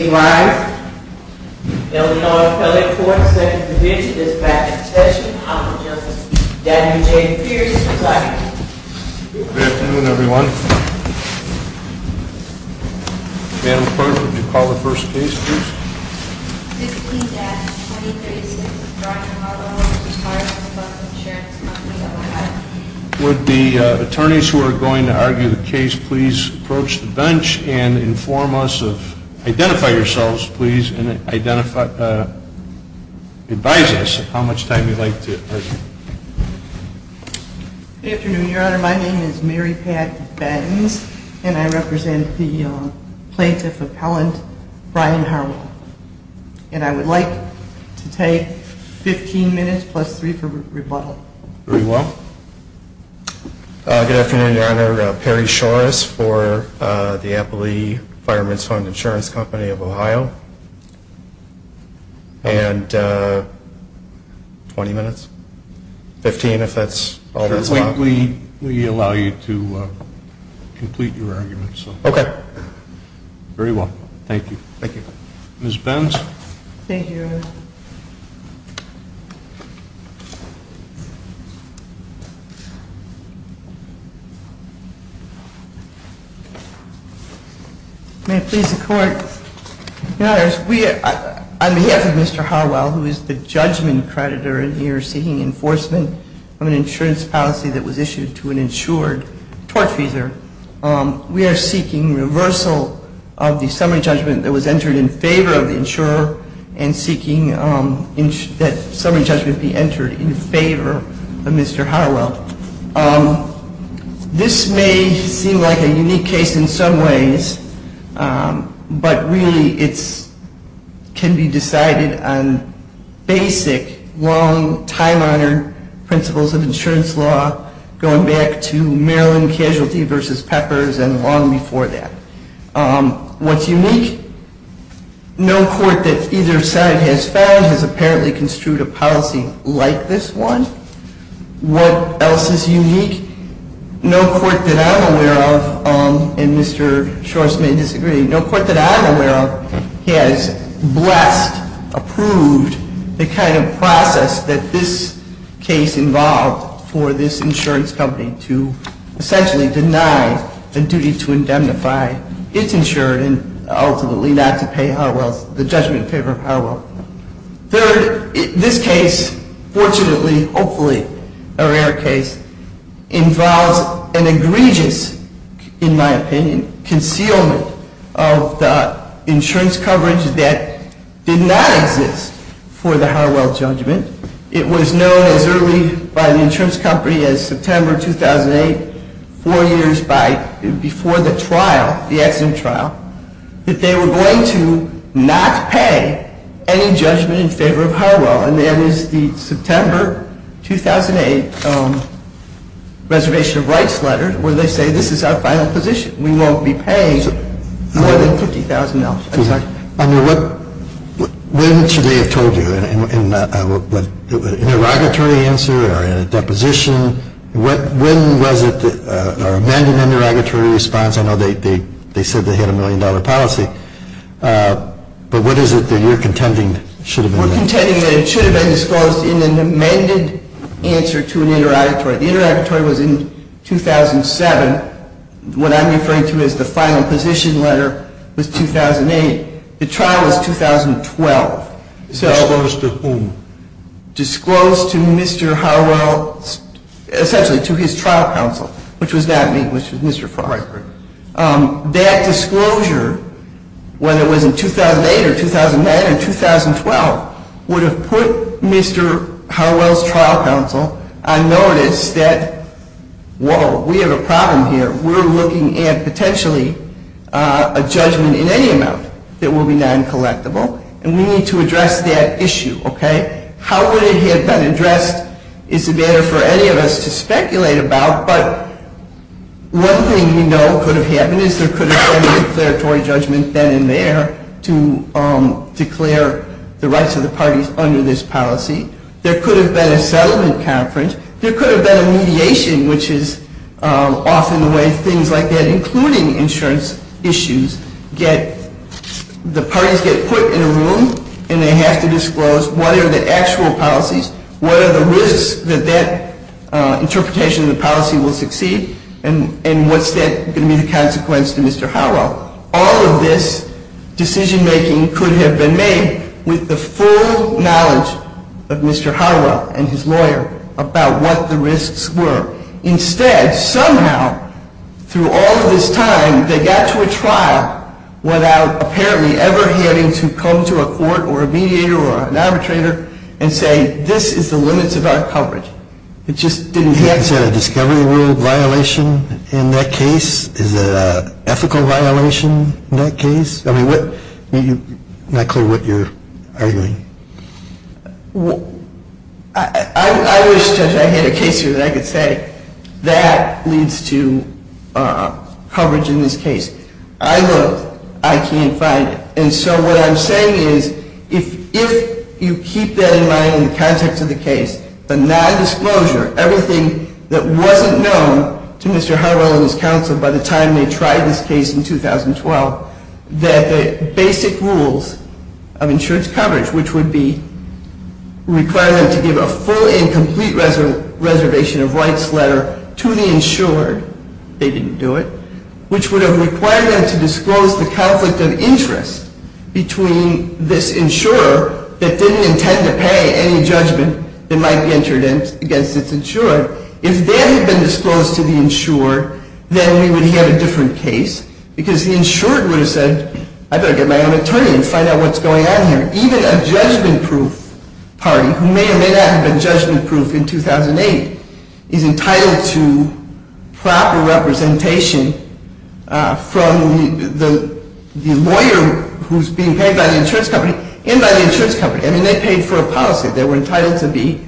Would the attorneys who are going to argue the case please approach the bench and inform us of, identify yourselves please, and advise us how much time you'd like to argue. Good afternoon, your honor. My name is Mary Pat Baines, and I represent the plaintiff appellant Brian Harwell. And I would like to take 15 minutes plus three for rebuttal. Very well. Good afternoon, your honor. Perry Shores for the Appley Fireman's Fund Insurance Company of Ohio. And 20 minutes? 15 if that's all there is left? We allow you to complete your arguments. Okay. Very well. Thank you. Thank you. Ms. Benz. Thank you, your honor. May it please the court. Your honor, on behalf of Mr. Harwell, who is the judgment creditor and you're seeking enforcement on an insurance policy that was issued to an insured torch user, we are seeking reversal of the summary judgment that was entered in favor of the insurer and seeking that summary judgment be entered in favor of Mr. Harwell. This may seem like a unique case in some ways, but really it can be decided on basic, long, time-honored principles of insurance law going back to Maryland Casualty v. Peppers and long before that. What's unique? No court that either side has found has apparently construed a policy like this one. What else is unique? No court that I'm aware of, and Mr. Shorst may disagree, no court that I'm aware of has blessed, approved the kind of process that this case involved for this insurance company to essentially deny the duty to indemnify its insured and ultimately not to pay the judgment in favor of Harwell. Third, this case, fortunately, hopefully a rare case, involves an egregious, in my opinion, concealment of the insurance coverage that did not exist for the Harwell judgment. It was known as early by the insurance company as September 2008, four years before the trial, the accident trial, that they were going to not pay any judgment in favor of Harwell. And that is the September 2008 reservation of rights letter where they say this is our final position. We won't be paying more than $50,000. Under what, when should they have told you? Interrogatory answer or in a deposition? When was it, or amended interrogatory response? I know they said they had a million dollar policy, but what is it that you're contending should have been? We're contending that it should have been disclosed in an amended answer to an interrogatory. The interrogatory was in 2007. What I'm referring to as the final position letter was 2008. The trial was 2012. Disclosed to whom? Disclosed to Mr. Harwell, essentially to his trial counsel, which was not me, which was Mr. Farr. Right, right. That disclosure, whether it was in 2008 or 2009 or 2012, would have put Mr. Harwell's trial counsel on notice that, whoa, we have a problem here. We're looking at potentially a judgment in any amount that will be non-collectible, and we need to address that issue, okay? How would it have been addressed is a matter for any of us to speculate about, but one thing we know could have happened is there could have been a declaratory judgment then and there to declare the rights of the parties under this policy. There could have been a settlement conference. There could have been a mediation, which is often the way things like that, including insurance issues, get, the parties get put in a room and they have to disclose what are the actual policies, what are the risks that that interpretation of the policy will succeed, and what's that going to be the consequence to Mr. Harwell. All of this decision-making could have been made with the full knowledge of Mr. Harwell and his lawyer about what the risks were. Instead, somehow, through all of this time, they got to a trial without apparently ever having to come to a court or a mediator or an arbitrator and say, this is the limits of our coverage. It just didn't happen. Is that a discovery rule violation in that case? Is it an ethical violation in that case? I mean, I'm not clear what you're arguing. I wish I had a case here that I could say that leads to coverage in this case. I looked. I can't find it. And so what I'm saying is, if you keep that in mind in the context of the case, the nondisclosure, everything that wasn't known to Mr. Harwell and his counsel by the time they tried this case in 2012, that the basic rules of insurance coverage, which would require them to give a full and complete reservation of rights letter to the insured, they didn't do it, which would have required them to disclose the conflict of interest between this insurer that didn't intend to pay any judgment that might be entered against its insured, if that had been disclosed to the insured, then we would have had a different case because the insured would have said, I better get my own attorney and find out what's going on here. Even a judgment-proof party, who may or may not have been judgment-proof in 2008, is entitled to proper representation from the lawyer who's being paid by the insurance company and by the insurance company. I mean, they paid for a policy. They were entitled to be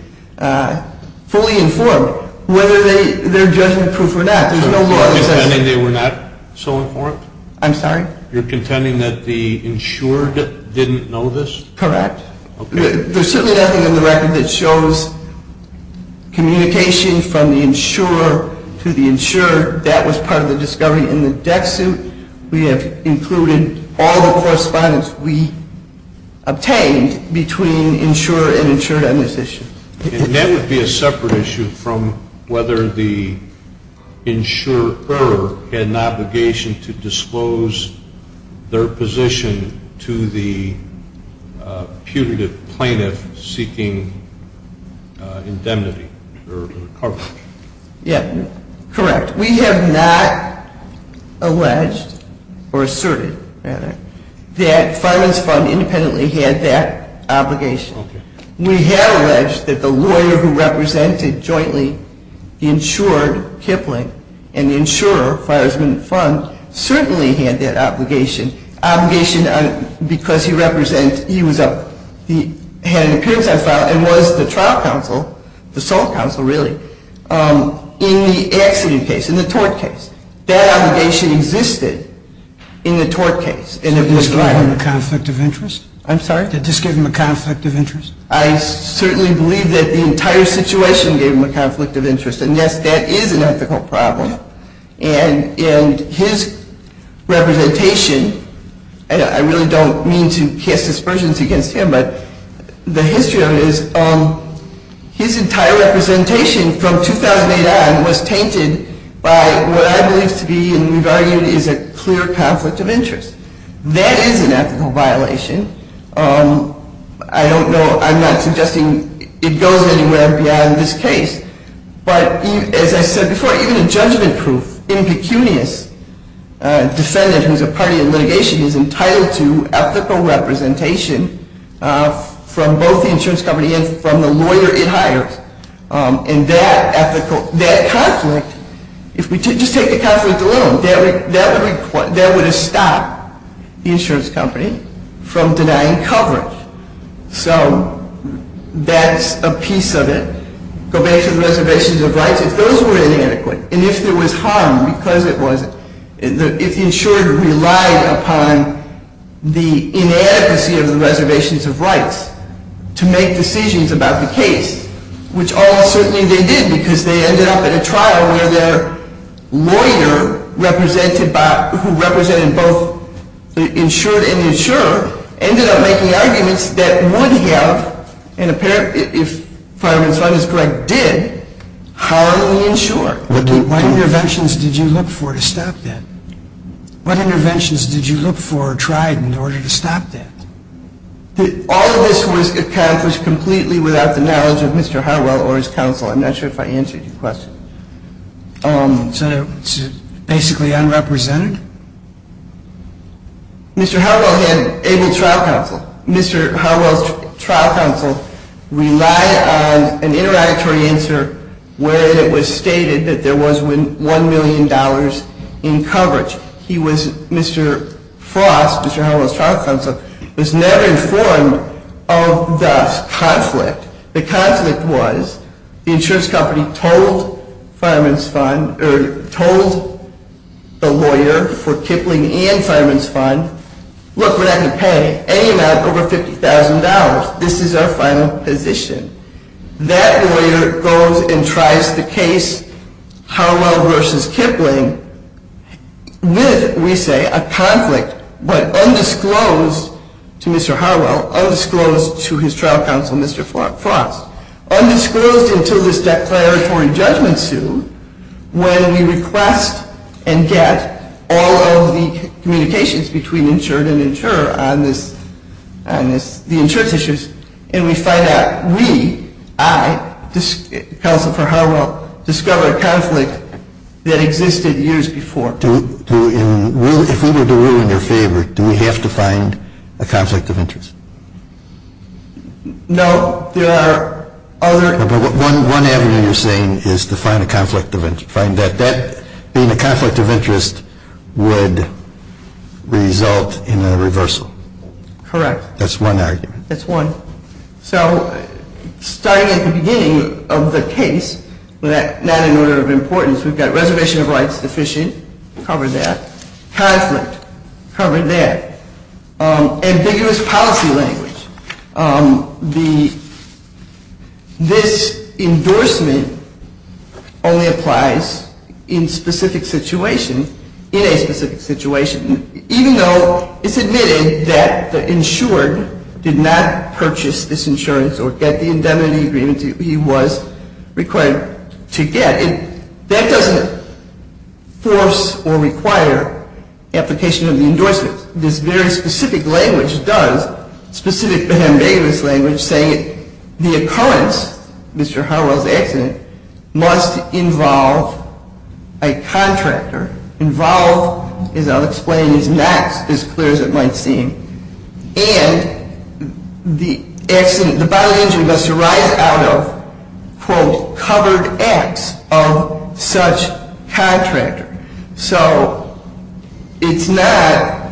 fully informed whether they're judgment-proof or not. There's no law that says that. You're contending they were not so informed? I'm sorry? You're contending that the insured didn't know this? Correct. Okay. There's certainly nothing in the record that shows communication from the insurer to the insured. That was part of the discovery. We have included all the correspondence we obtained between insurer and insured on this issue. And that would be a separate issue from whether the insurer had an obligation to disclose their position to the putative plaintiff seeking indemnity or recovery. Yeah, correct. We have not alleged or asserted, rather, that Fireman's Fund independently had that obligation. We have alleged that the lawyer who represented jointly the insured, Kipling, and the insurer, Fireman's Fund, certainly had that obligation. Obligation because he had an appearance on file and was the trial counsel, the sole counsel, really, in the accident case, in the tort case. That obligation existed in the tort case. Did this give him a conflict of interest? I'm sorry? Did this give him a conflict of interest? I certainly believe that the entire situation gave him a conflict of interest. And, yes, that is an ethical problem. And his representation, and I really don't mean to cast aspersions against him, but the history of it is his entire representation from 2008 on was tainted by what I believe to be, and we've argued, is a clear conflict of interest. That is an ethical violation. I don't know, I'm not suggesting it goes anywhere beyond this case. But, as I said before, even a judgment-proof, impecunious defendant who's a party in litigation is entitled to ethical representation from both the insurance company and from the lawyer it hires. And that ethical, that conflict, if we just take the conflict alone, that would have stopped the insurance company from denying coverage. So, that's a piece of it. Go back to the reservations of rights. If those were inadequate, and if there was harm because it was, if the insured relied upon the inadequacy of the reservations of rights to make decisions about the case, which all certainly they did because they ended up in a trial where their lawyer represented by, who represented both the insured and the insurer, ended up making arguments that would have, and if Fireman's Fund is correct, did, harmfully insure. What interventions did you look for to stop that? What interventions did you look for or try in order to stop that? All of this was accomplished completely without the knowledge of Mr. Harwell or his counsel. I'm not sure if I answered your question. So, it's basically unrepresented? Mr. Harwell had able trial counsel. Mr. Harwell's trial counsel relied on an interactory answer where it was stated that there was $1 million in coverage. He was, Mr. Frost, Mr. Harwell's trial counsel, was never informed of the conflict. The conflict was the insurance company told the lawyer for Kipling and Fireman's Fund, look, we're not going to pay any amount over $50,000. This is our final position. That lawyer goes and tries the case Harwell versus Kipling with, we say, a conflict, but undisclosed to Mr. Harwell, undisclosed to his trial counsel, Mr. Frost, undisclosed until this declaratory judgment suit when we request and get all of the communications between insured and insurer on the insurance issues and we find out we, I, counsel for Harwell, discover a conflict that existed years before. If we were to rule in their favor, do we have to find a conflict of interest? No, there are other... But one avenue you're saying is to find a conflict of interest, find that that being a conflict of interest would result in a reversal. Correct. That's one argument. That's one. So, starting at the beginning of the case, not in order of importance, we've got reservation of rights deficient, covered that. Conflict, covered that. Ambiguous policy language. This endorsement only applies in specific situations, in a specific situation, even though it's admitted that the insured did not purchase this insurance or get the indemnity agreement he was required to get. That doesn't force or require application of the endorsement. This very specific language does, specific to the ambiguous language, saying the occurrence, Mr. Harwell's accident, must involve a contractor, involve, as I'll explain, is not as clear as it might seem, and the violent injury must arise out of, quote, covered acts of such contractor. So, it's not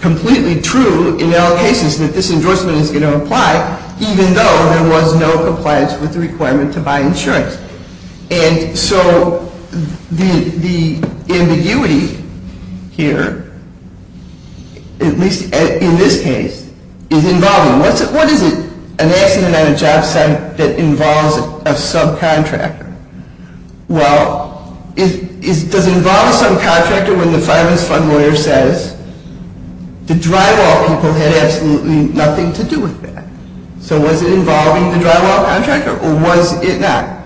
completely true in all cases that this endorsement is going to apply, even though there was no compliance with the requirement to buy insurance. And so, the ambiguity here, at least in this case, is involving. What is it, an accident on a job site that involves a subcontractor? Well, does it involve a subcontractor when the finance fund lawyer says, the drywall people had absolutely nothing to do with that? So, was it involving the drywall contractor, or was it not?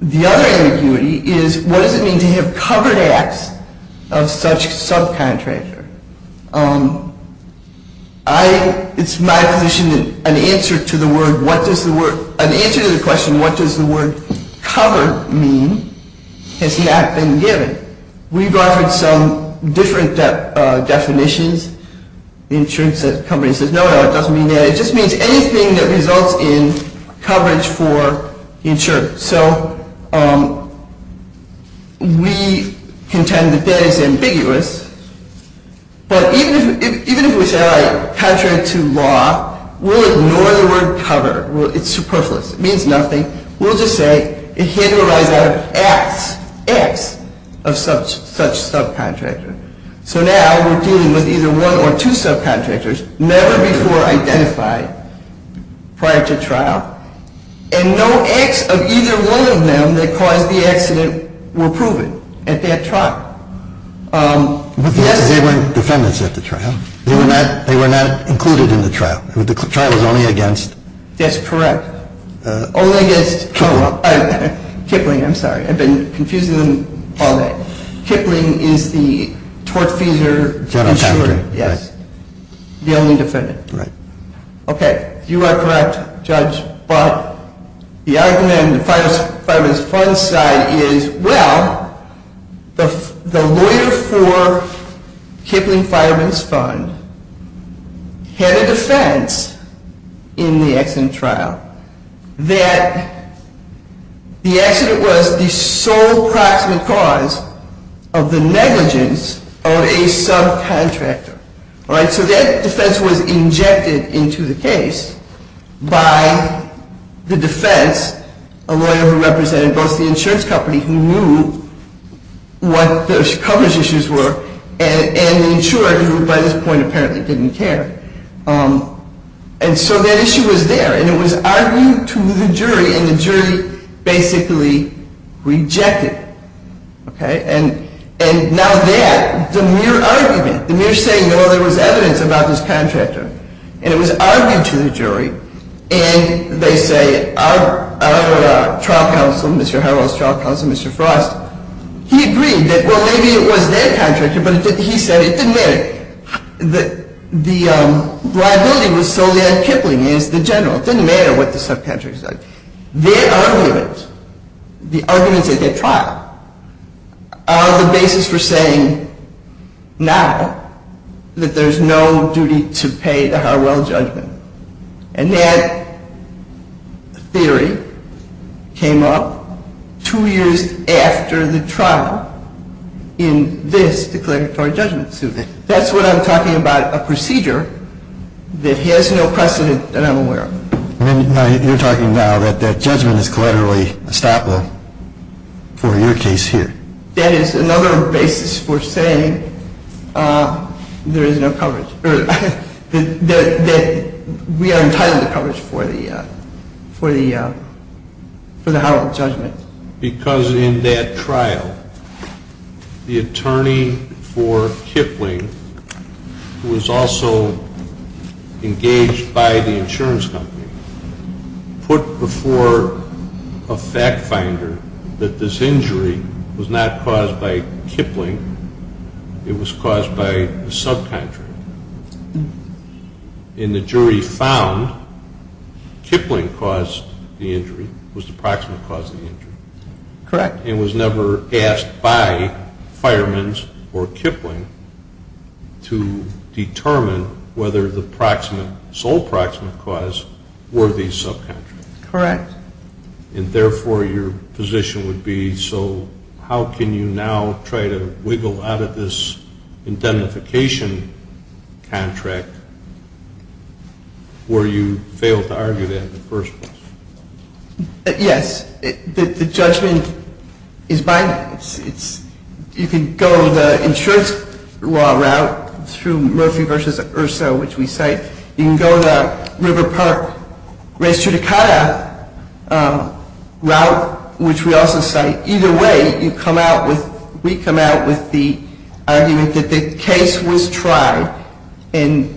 The other ambiguity is, what does it mean to have covered acts of such subcontractor? It's my position that an answer to the question, what does the word covered mean, has not been given. We've offered some different definitions. The insurance company says, no, no, it doesn't mean that. It just means anything that results in coverage for the insured. So, we contend that that is ambiguous, but even if we say, all right, contract to law, we'll ignore the word covered. It's superfluous. It means nothing. We'll just say it had to arise out of acts, acts of such subcontractor. So, now we're dealing with either one or two subcontractors never before identified prior to trial, and no acts of either one of them that caused the accident were proven at that trial. But they weren't defendants at the trial. They were not included in the trial. The trial was only against? That's correct. Only against Kipling. Kipling, I'm sorry. I've been confusing them all day. Kipling is the tortfeasor insurer. Yes. The only defendant. Right. Okay. You are correct, Judge, but the argument in the Fireman's Fund side is, well, the lawyer for Kipling Fireman's Fund had a defense in the accident trial that the accident was the sole proximate cause of the negligence of a subcontractor. All right? So, that defense was injected into the case by the defense, a lawyer who represented both the insurance company, who knew what the coverage issues were, and the insurer, who by this point apparently didn't care. And so, that issue was there. And it was argued to the jury, and the jury basically rejected it. Okay? And now that, the mere argument, the mere saying, well, there was evidence about this contractor, and it was argued to the jury, and they say our trial counsel, Mr. Harrell's trial counsel, Mr. Frost, he agreed that, well, maybe it was their contractor, but he said it didn't matter. The liability was solely on Kipling as the general. It didn't matter what the subcontractor said. Their argument, the arguments at their trial, are the basis for saying now that there's no duty to pay the Harrell judgment. And that theory came up two years after the trial in this declaratory judgment suit. That's what I'm talking about, a procedure that has no precedent that I'm aware of. You're talking now that that judgment is collaterally estoppel for your case here. That is another basis for saying there is no coverage, that we are entitled to coverage for the Harrell judgment. Because in that trial, the attorney for Kipling, who was also engaged by the insurance company, put before a fact finder that this injury was not caused by Kipling, it was caused by a subcontractor. And the jury found Kipling caused the injury, was the proximate cause of the injury. Correct. And was never asked by Fireman's or Kipling to determine whether the sole proximate cause were the subcontractor. Correct. And therefore, your position would be, so how can you now try to wiggle out of this indemnification contract where you failed to argue that in the first place? Yes. The judgment is binding. You can go the insurance law route through Murphy v. Erso, which we cite. You can go the River Park Res Churicada route, which we also cite. Either way, you come out with, we come out with the argument that the case was tried. And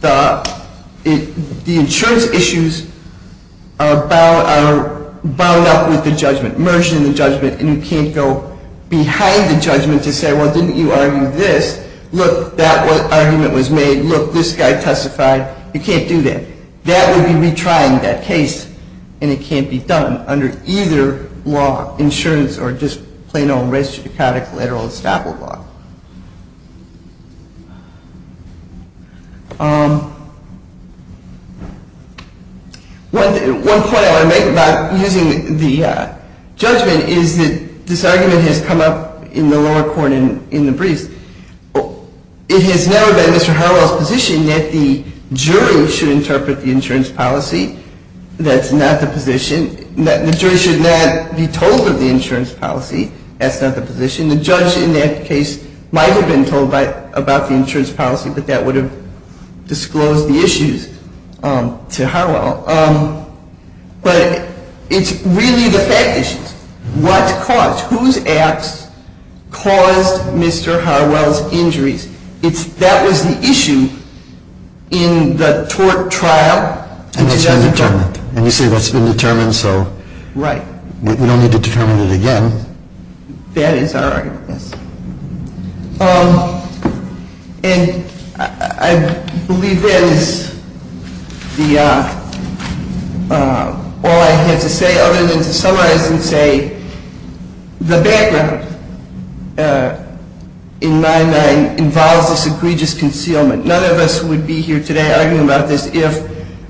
the insurance issues are bound up with the judgment, merged in the judgment. And you can't go behind the judgment to say, well, didn't you argue this? Look, that argument was made. Look, this guy testified. You can't do that. That would be retrying that case. And it can't be done under either law, insurance or just plain old Res Churicada collateral estoppel law. One point I want to make about using the judgment is that this argument has come up in the lower court in the briefs. It has never been Mr. Harwell's position that the jury should interpret the insurance policy. That's not the position. The jury should not be told of the insurance policy. That's not the position. The judge in that case might have been told about the insurance policy, but that would have disclosed the issues to Harwell. But it's really the fact issues. What caused? Whose acts caused Mr. Harwell's injuries? That was the issue in the tort trial. And that's been determined. And you say that's been determined, so we don't need to determine it again. That is our argument, yes. And I believe that is all I have to say other than to summarize and say the background in 9-9 involves this egregious concealment. None of us would be here today arguing about this if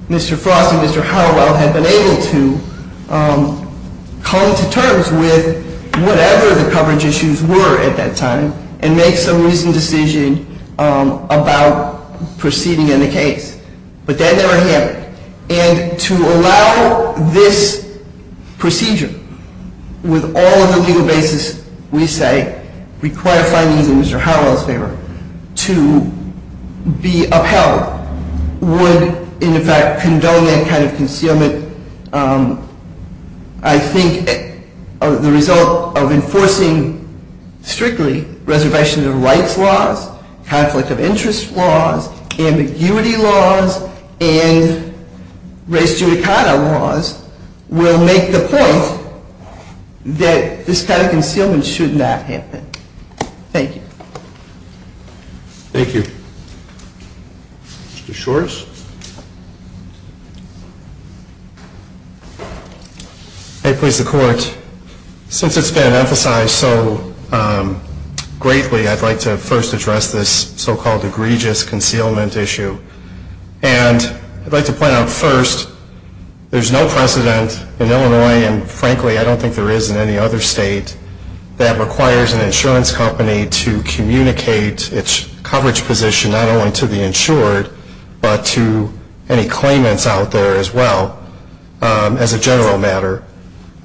Mr. Frost and Mr. Harwell had been able to come to terms with whatever the coverage issues were at that time. And make some reasoned decision about proceeding in the case. But that never happened. And to allow this procedure with all of the legal basis we say require findings in Mr. Harwell's favor to be upheld would in fact condone that kind of concealment. I think the result of enforcing strictly reservation of rights laws, conflict of interest laws, ambiguity laws, and race judicata laws will make the point that this kind of concealment should not happen. Thank you. Mr. Shores? May it please the Court. Since it's been emphasized so greatly, I'd like to first address this so-called egregious concealment issue. And I'd like to point out first, there's no precedent in Illinois, and frankly I don't think there is in any other state, that requires an insurance company to communicate its coverage position not only to the insured, but to any claimants out there as well. As a general matter.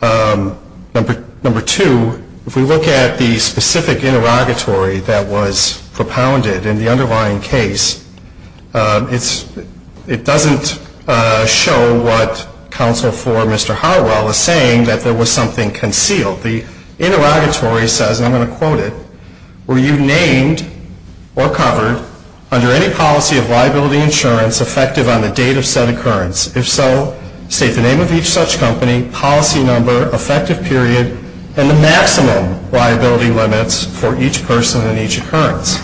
Number two, if we look at the specific interrogatory that was propounded in the underlying case, it doesn't show what counsel for Mr. Harwell is saying, that there was something concealed. The interrogatory says, and I'm going to quote it, were you named or covered under any policy of liability insurance effective on the date of said occurrence? If so, state the name of each such company, policy number, effective period, and the maximum liability limits for each person and each occurrence.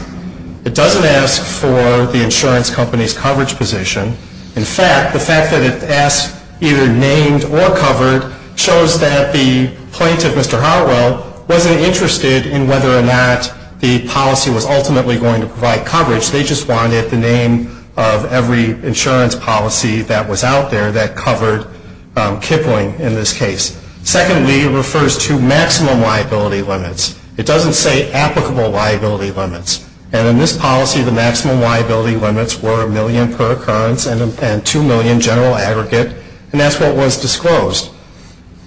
It doesn't ask for the insurance company's coverage position. In fact, the fact that it asks either named or covered shows that the plaintiff, Mr. Harwell, wasn't interested in whether or not the policy was ultimately going to provide coverage. They just wanted the name of every insurance policy that was out there that covered Kipling in this case. Secondly, it refers to maximum liability limits. It doesn't say applicable liability limits. And in this policy, the maximum liability limits were a million per occurrence and 2 million general aggregate. And that's what was disclosed.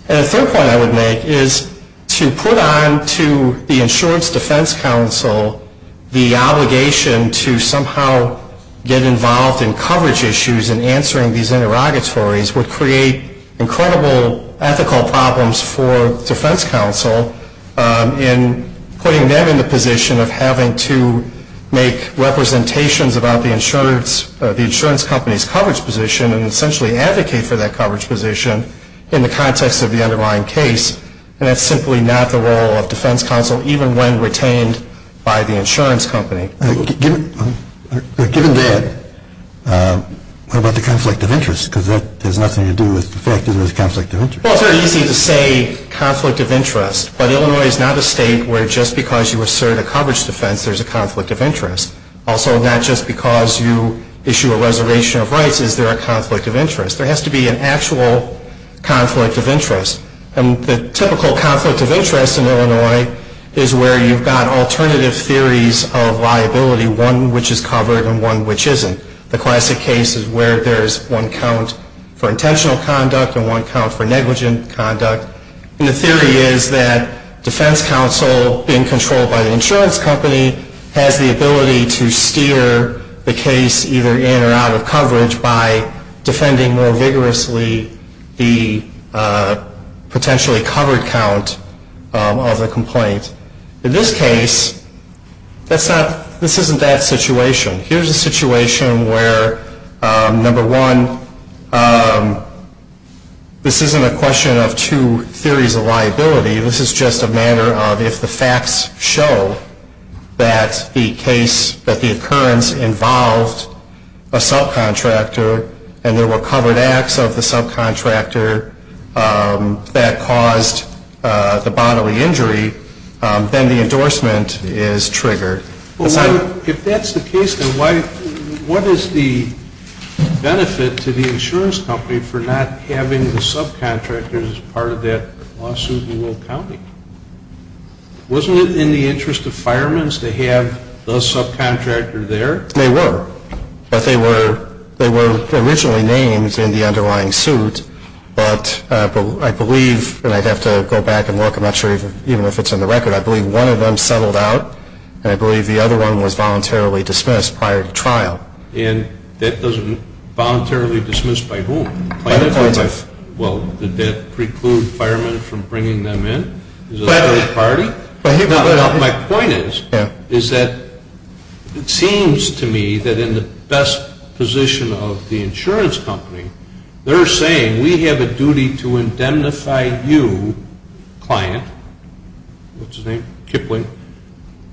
And a third point I would make is to put on to the insurance defense counsel the obligation to somehow get involved in coverage issues and answering these interrogatories would create incredible ethical problems for defense counsel in putting them in the position of having to make representations about the insurance company's coverage position and essentially advocate for that coverage position in the context of the underlying case. And that's simply not the role of defense counsel, even when retained by the insurance company. Given that, what about the conflict of interest? Because that has nothing to do with the fact that there's a conflict of interest. Well, it's very easy to say conflict of interest. But Illinois is not a state where just because you assert a coverage defense, there's a conflict of interest. Also, not just because you issue a reservation of rights is there a conflict of interest. There has to be an actual conflict of interest. And the typical conflict of interest in Illinois is where you've got alternative theories of liability, one which is covered and one which isn't. The classic case is where there's one count for intentional conduct and one count for negligent conduct. And the theory is that defense counsel being controlled by the insurance company has the ability to steer the case either in or out of coverage by defending more vigorously the potentially covered count of the complaint. In this case, this isn't that situation. Here's a situation where, number one, this isn't a question of two theories of liability. This is just a matter of if the facts show that the case, that the occurrence involved a subcontractor and there were covered acts of the subcontractor that caused the bodily injury, then the endorsement is triggered. If that's the case, then what is the benefit to the insurance company for not having the subcontractors as part of that lawsuit in Will County? Wasn't it in the interest of firemen's to have the subcontractor there? They were. But they were originally named in the underlying suit. But I believe, and I'd have to go back and look, I'm not sure even if it's in the record, I believe one of them settled out and I believe the other one was voluntarily dismissed prior to trial. And that doesn't, voluntarily dismissed by whom? By the plaintiff. Well, did that preclude firemen from bringing them in? By the plaintiff. Is it a third party? My point is, is that it seems to me that in the best position of the insurance company, they're saying we have a duty to indemnify you, client, what's his name, Kipling,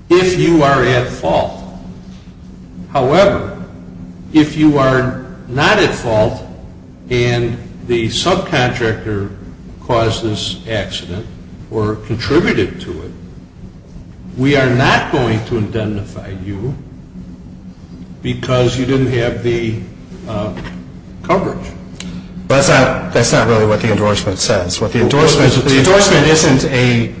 if you are at fault. However, if you are not at fault and the subcontractor caused this accident or contributed to it, we are not going to indemnify you because you didn't have the coverage. That's not really what the endorsement says. The endorsement isn't a,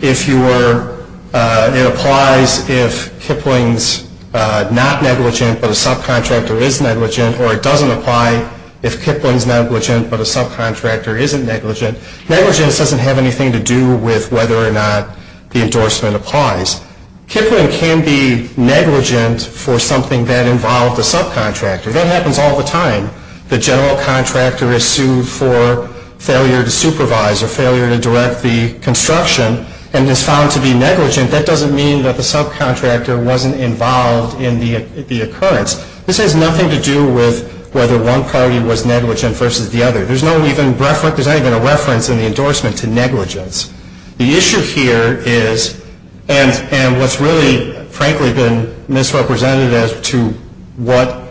if you were, it applies if Kipling's not negligent but a subcontractor is negligent, or it doesn't apply if Kipling's negligent but a subcontractor isn't negligent. Negligence doesn't have anything to do with whether or not the endorsement applies. Kipling can be negligent for something that involved a subcontractor. That happens all the time. The general contractor is sued for failure to supervise or failure to direct the construction and is found to be negligent. That doesn't mean that the subcontractor wasn't involved in the occurrence. This has nothing to do with whether one party was negligent versus the other. There's not even a reference in the endorsement to negligence. The issue here is, and what's really frankly been misrepresented as to what,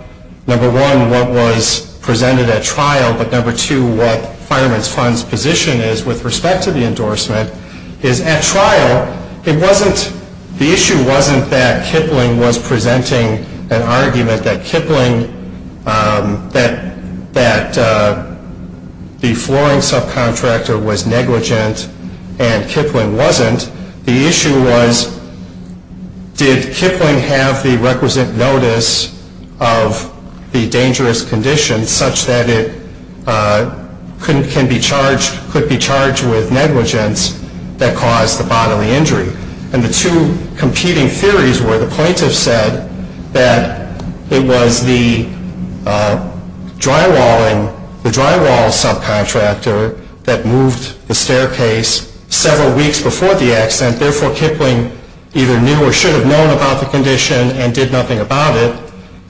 number one, what was presented at trial, but number two, what Fireman's Fund's position is with respect to the endorsement, is at trial, it wasn't, the issue wasn't that Kipling was presenting an argument that Kipling, that the flooring subcontractor was negligent and Kipling wasn't. The issue was, did Kipling have the requisite notice of the dangerous condition such that it could be charged with negligence that caused the bodily injury? And the two competing theories were the plaintiff said that it was the drywalling, the drywall subcontractor that moved the staircase several weeks before the accident. Therefore, Kipling either knew or should have known about the condition and did nothing about it.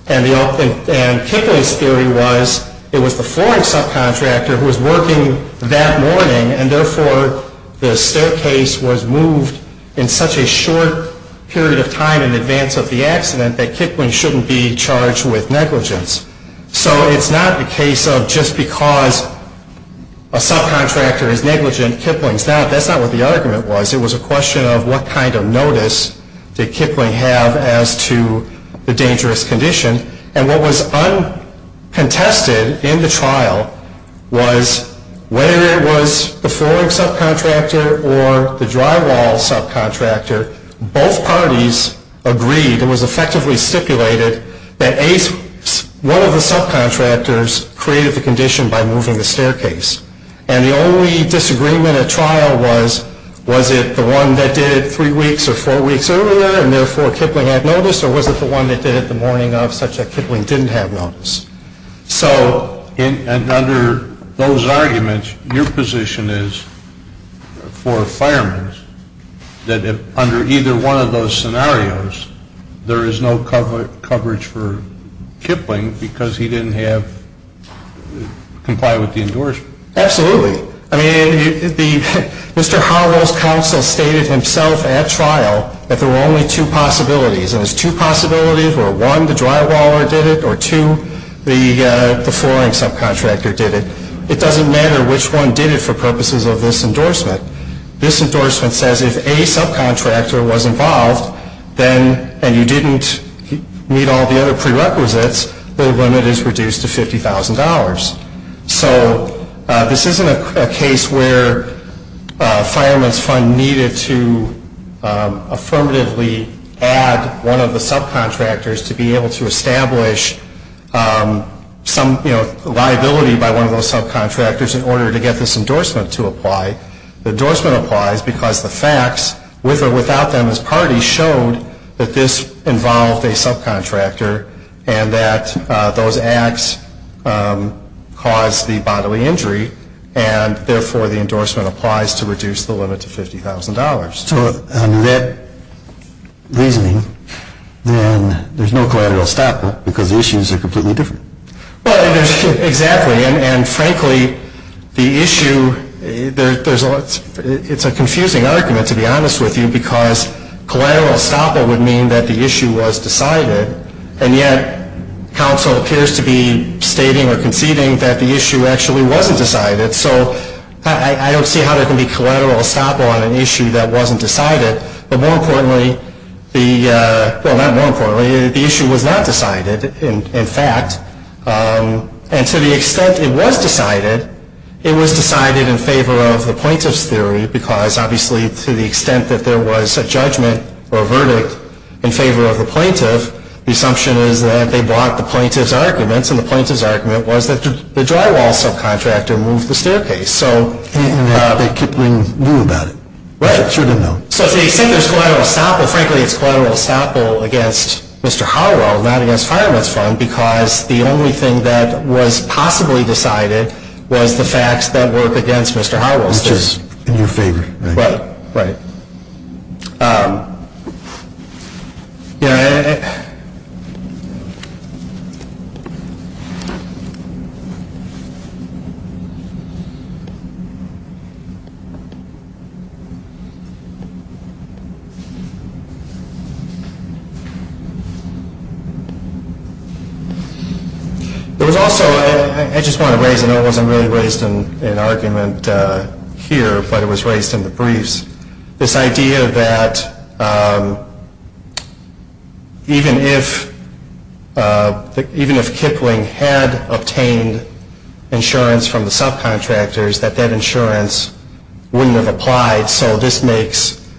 And Kipling's theory was it was the flooring subcontractor who was working that morning and therefore the staircase was moved in such a short period of time in advance of the accident that Kipling shouldn't be charged with negligence. So it's not the case of just because a subcontractor is negligent, Kipling's not. That's not what the argument was. It was a question of what kind of notice did Kipling have as to the dangerous condition. And what was uncontested in the trial was whether it was the flooring subcontractor or the drywall subcontractor, both parties agreed, it was effectively stipulated, that one of the subcontractors created the condition by moving the staircase. And the only disagreement at trial was, was it the one that did it three weeks or four weeks earlier and therefore Kipling had notice or was it the one that did it the morning of such that Kipling didn't have notice. So... And under those arguments, your position is, for firemen, that under either one of those scenarios, there is no coverage for Kipling because he didn't comply with the endorsement. Absolutely. I mean, Mr. Harrell's counsel stated himself at trial that there were only two possibilities. And there's two possibilities where one, the drywaller did it, or two, the flooring subcontractor did it. It doesn't matter which one did it for purposes of this endorsement. This endorsement says if a subcontractor was involved and you didn't meet all the other prerequisites, the limit is reduced to $50,000. So this isn't a case where a fireman's fund needed to affirmatively add one of the subcontractors to be able to establish some liability by one of those subcontractors in order to get this endorsement to apply. The endorsement applies because the facts, with or without them as parties, showed that this involved a subcontractor and that those acts caused the bodily injury, and therefore the endorsement applies to reduce the limit to $50,000. So under that reasoning, then there's no collateral stop because the issues are completely different. Well, exactly. And frankly, the issue, it's a confusing argument, to be honest with you, because collateral estoppel would mean that the issue was decided, and yet counsel appears to be stating or conceding that the issue actually wasn't decided. So I don't see how there can be collateral estoppel on an issue that wasn't decided. But more importantly, well, not more importantly, the issue was not decided, in fact. And to the extent it was decided, it was decided in favor of the plaintiff's theory because obviously to the extent that there was a judgment or a verdict in favor of the plaintiff, the assumption is that they bought the plaintiff's arguments, and the plaintiff's argument was that the drywall subcontractor moved the staircase. And they kept being blue about it. Right. Sure didn't know. So to the extent there's collateral estoppel, frankly, it's collateral estoppel against Mr. Howell, not against Firewoods Fund because the only thing that was possibly decided was the facts that work against Mr. Howell's theory. Which is in your favor. Right. Right. There was also, I just want to raise, I know it wasn't really raised in argument here, but it was raised in the briefs, this idea that even if Kipling had obtained insurance from the subcontractors, that that insurance wouldn't have applied. So this makes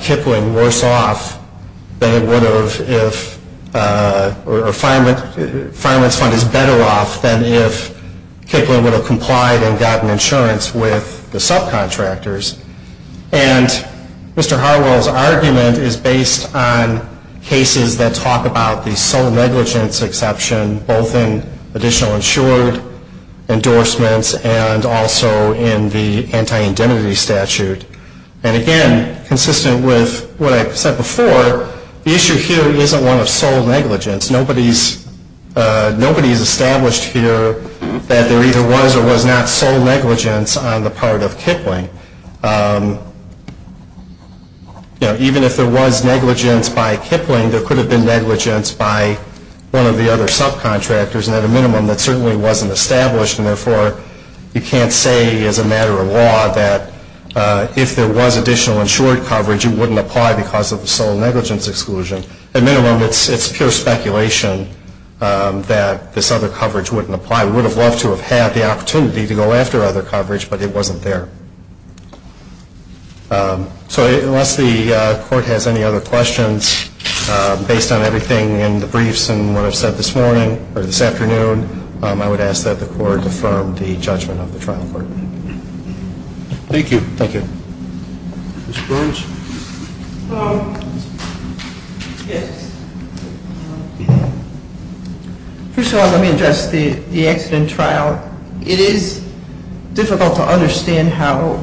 Kipling worse off than it would have if, or Firewoods Fund is better off than if Kipling would have complied and gotten insurance with the subcontractors. And Mr. Howell's argument is based on cases that talk about the sole negligence exception, both in additional insured endorsements and also in the anti-indemnity statute. And again, consistent with what I said before, the issue here isn't one of sole negligence. Nobody's established here that there either was or was not sole negligence on the part of Kipling. Even if there was negligence by Kipling, there could have been negligence by one of the other subcontractors. And at a minimum, that certainly wasn't established. And therefore, you can't say as a matter of law that if there was additional insured coverage, it wouldn't apply because of the sole negligence exclusion. At minimum, it's pure speculation that this other coverage wouldn't apply. We would have loved to have had the opportunity to go after other coverage, but it wasn't there. So unless the court has any other questions, based on everything in the briefs and what I've said this morning or this afternoon, I would ask that the court affirm the judgment of the trial court. Thank you. Thank you. Ms. Burns? Yes. First of all, let me address the accident trial. It is difficult to understand how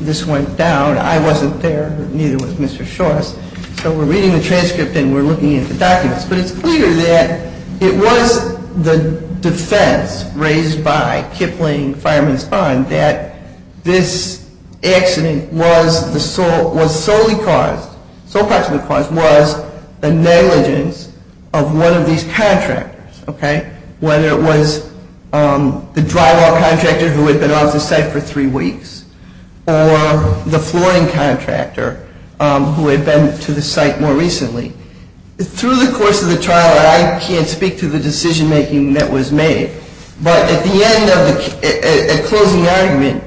this went down. I wasn't there. Neither was Mr. Shorst. So we're reading the transcript and we're looking at the documents. But it's clear that it was the defense raised by Kipling Fireman's Fund that this accident was solely caused, was the negligence of one of these contractors, whether it was the drywall contractor who had been off the site for three weeks or the flooring contractor who had been to the site more recently. Through the course of the trial, I can't speak to the decision making that was made. But at the end of the closing argument,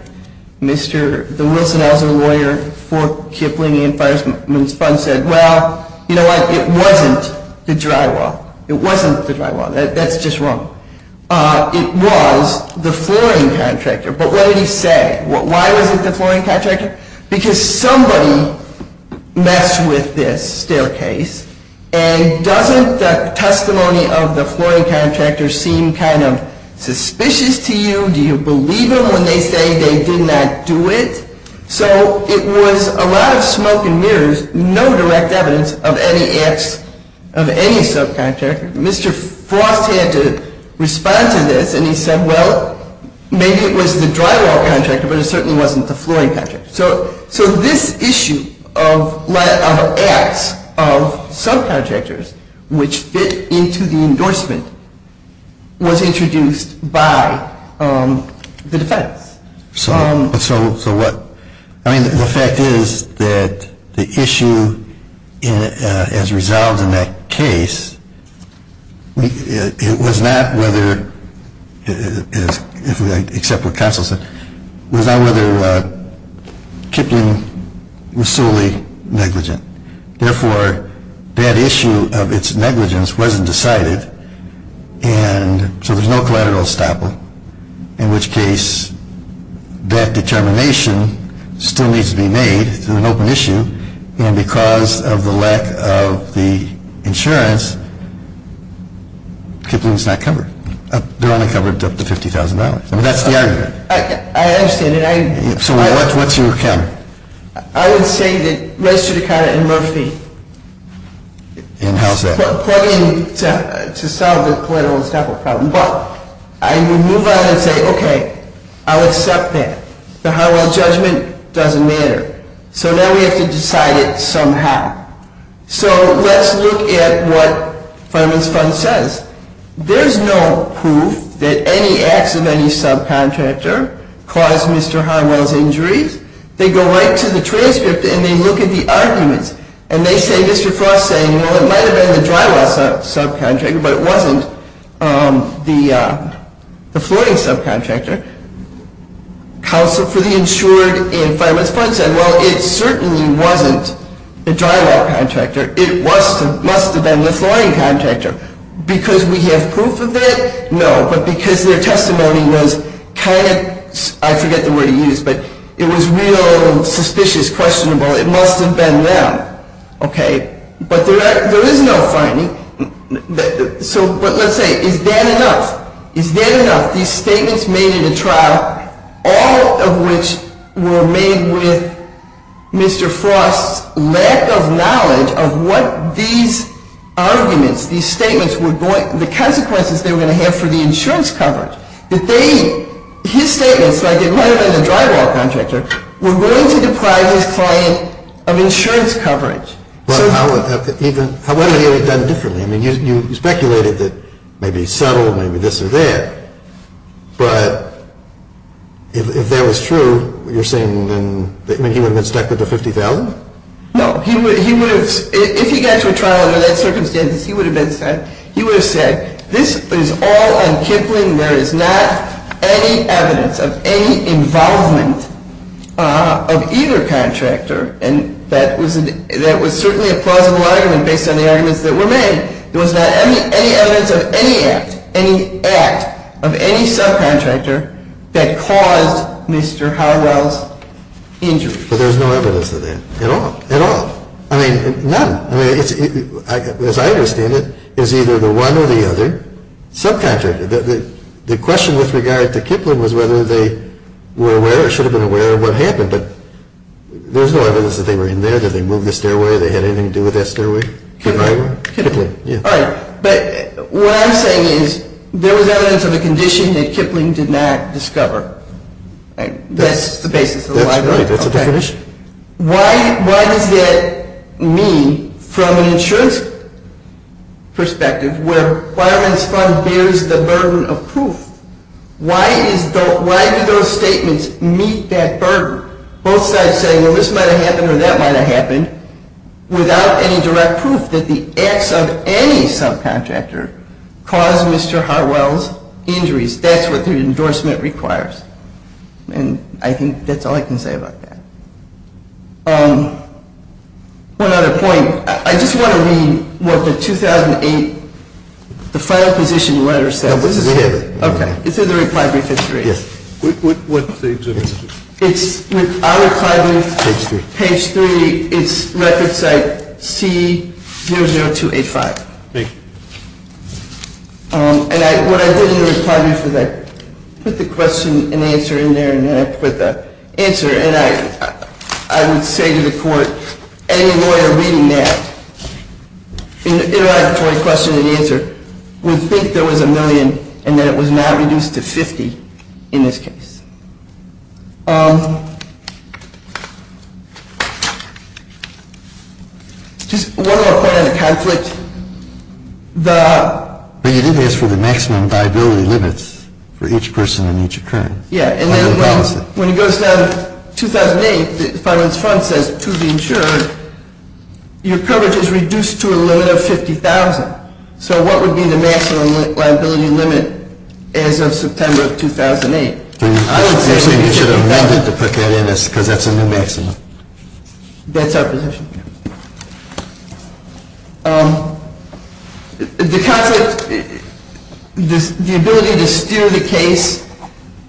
the Wilson-Elser lawyer for Kipling Fireman's Fund said, well, you know what, it wasn't the drywall. It wasn't the drywall. That's just wrong. It was the flooring contractor. But what did he say? Why was it the flooring contractor? Because somebody messed with this staircase. And doesn't the testimony of the flooring contractor seem kind of suspicious to you? Do you believe them when they say they did not do it? So it was a lot of smoke and mirrors, no direct evidence of any acts of any subcontractor. Mr. Frost had to respond to this, and he said, well, maybe it was the drywall contractor, but it certainly wasn't the flooring contractor. So this issue of acts of subcontractors which fit into the endorsement was introduced by the defense. So what? I mean, the fact is that the issue as resolved in that case, it was not whether, except what counsel said, it was not whether Kipling was solely negligent. Therefore, that issue of its negligence wasn't decided. And so there's no collateral estoppel, in which case that determination still needs to be made. It's an open issue. And because of the lack of the insurance, Kipling's not covered. They're only covered up to $50,000. I mean, that's the argument. I understand. So what's your account? I would say that registered account in Murphy. And how's that? Plug in to solve the collateral estoppel problem. But I would move on and say, okay, I'll accept that. The Highwell judgment doesn't matter. So now we have to decide it somehow. So let's look at what Fundraise Fund says. There's no proof that any acts of any subcontractor caused Mr. Highwell's injuries. They go right to the transcript, and they look at the arguments. And they say, Mr. Frost's saying, well, it might have been the drywall subcontractor, but it wasn't the flooring subcontractor. Counsel for the insured in Fundraise Fund said, well, it certainly wasn't the drywall contractor. It must have been the flooring contractor. Because we have proof of it? No, but because their testimony was kind of, I forget the word he used, but it was real, suspicious, questionable. It must have been them, okay? But there is no finding. So let's say, is that enough? Is that enough? These statements made at a trial, all of which were made with Mr. Frost's lack of knowledge of what these arguments, these statements, the consequences they were going to have for the insurance coverage. His statements, like it might have been the drywall contractor, were going to deprive his client of insurance coverage. Well, how would he have done differently? I mean, you speculated that maybe subtle, maybe this or that. But if that was true, you're saying then he would have been stuck with the $50,000? No. If he got to a trial under that circumstance, he would have said, this is all on Kipling. There is not any evidence of any involvement of either contractor. And that was certainly a plausible argument based on the arguments that were made. There was not any evidence of any act, any act of any subcontractor that caused Mr. Harwell's injury. But there's no evidence of that at all? At all. I mean, none. As I understand it, it was either the one or the other subcontractor. The question with regard to Kipling was whether they were aware or should have been aware of what happened. But there was no evidence that they were in there, that they moved the stairway, that they had anything to do with that stairway. Kipling. All right. But what I'm saying is there was evidence of a condition that Kipling did not discover. That's the basis of the argument. That's right. That's the definition. Why does that mean from an insurance perspective where a requirements fund bears the burden of proof? Why do those statements meet that burden? Both sides say, well, this might have happened or that might have happened without any direct proof that the acts of any subcontractor caused Mr. Harwell's injuries. That's what the endorsement requires. And I think that's all I can say about that. One other point. I just want to read what the 2008, the final position letter says. We have it. Okay. It's in the reply brief. Yes. What page is it? It's on the reply brief. Page 3. Page 3. It's record site C00285. Thank you. And what I did in the reply brief is I put the question and answer in there and then I put the answer. And I would say to the court, any lawyer reading that interrogatory question and answer would think there was a million and that it was not reduced to 50 in this case. Just one more point on the conflict. But you did ask for the maximum liability limits for each person in each occurrence. Yeah. And then when it goes down to 2008, the finance front says to be insured, your coverage is reduced to a limit of 50,000. So what would be the maximum liability limit as of September of 2008? I would say you should have amended to put that in because that's a new maximum. That's our position. The concept, the ability to steer the case,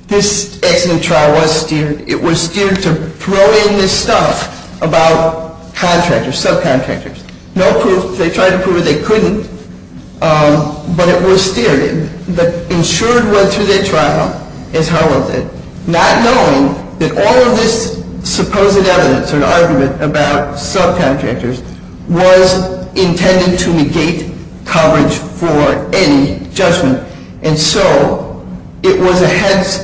this accident trial was steered. It was steered to throw in this stuff about contractors, subcontractors. No proof. They tried to prove it. They couldn't. But it was steered in. The insured went through their trial as hell with it, not knowing that all of this supposed evidence or the argument about subcontractors was intended to negate coverage for any judgment. And so it was a hence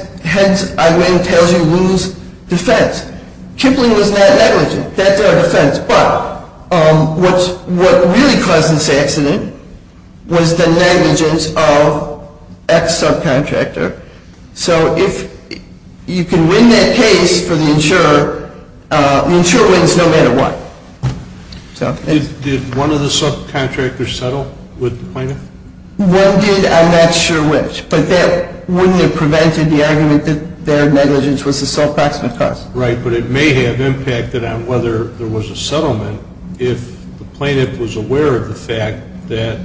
I win, tells you lose defense. Kipling was not negligent. That's our defense. But what really caused this accident was the negligence of X subcontractor. So if you can win that case for the insurer, the insurer wins no matter what. Did one of the subcontractors settle with the plaintiff? One did. I'm not sure which. But that wouldn't have prevented the argument that their negligence was a subproximate cause. Right. But it may have impacted on whether there was a settlement if the plaintiff was aware of the fact that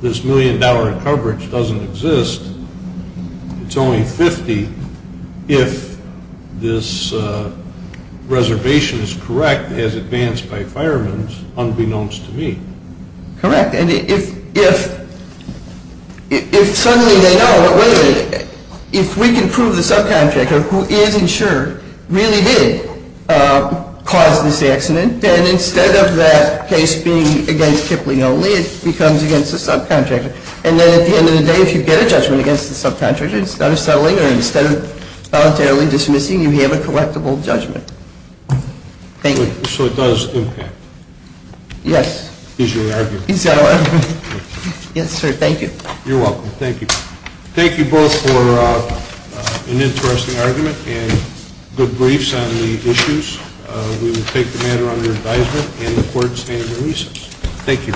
this million-dollar coverage doesn't exist, it's only 50 if this reservation is correct as advanced by firemen, unbeknownst to me. Correct. And if suddenly they know, wait a minute, if we can prove the subcontractor who is insured really did cause this accident, then instead of that case being against Kipling only, it becomes against the subcontractor. And then at the end of the day, if you get a judgment against the subcontractor instead of settling or instead of voluntarily dismissing, you have a collectible judgment. Thank you. So it does impact? Yes. He's going to argue. He's going to argue. Yes, sir. Thank you. You're welcome. Thank you. Thank you both for an interesting argument and good briefs on the issues. We will take the matter under advisement and the court's stand on the reasons. Thank you.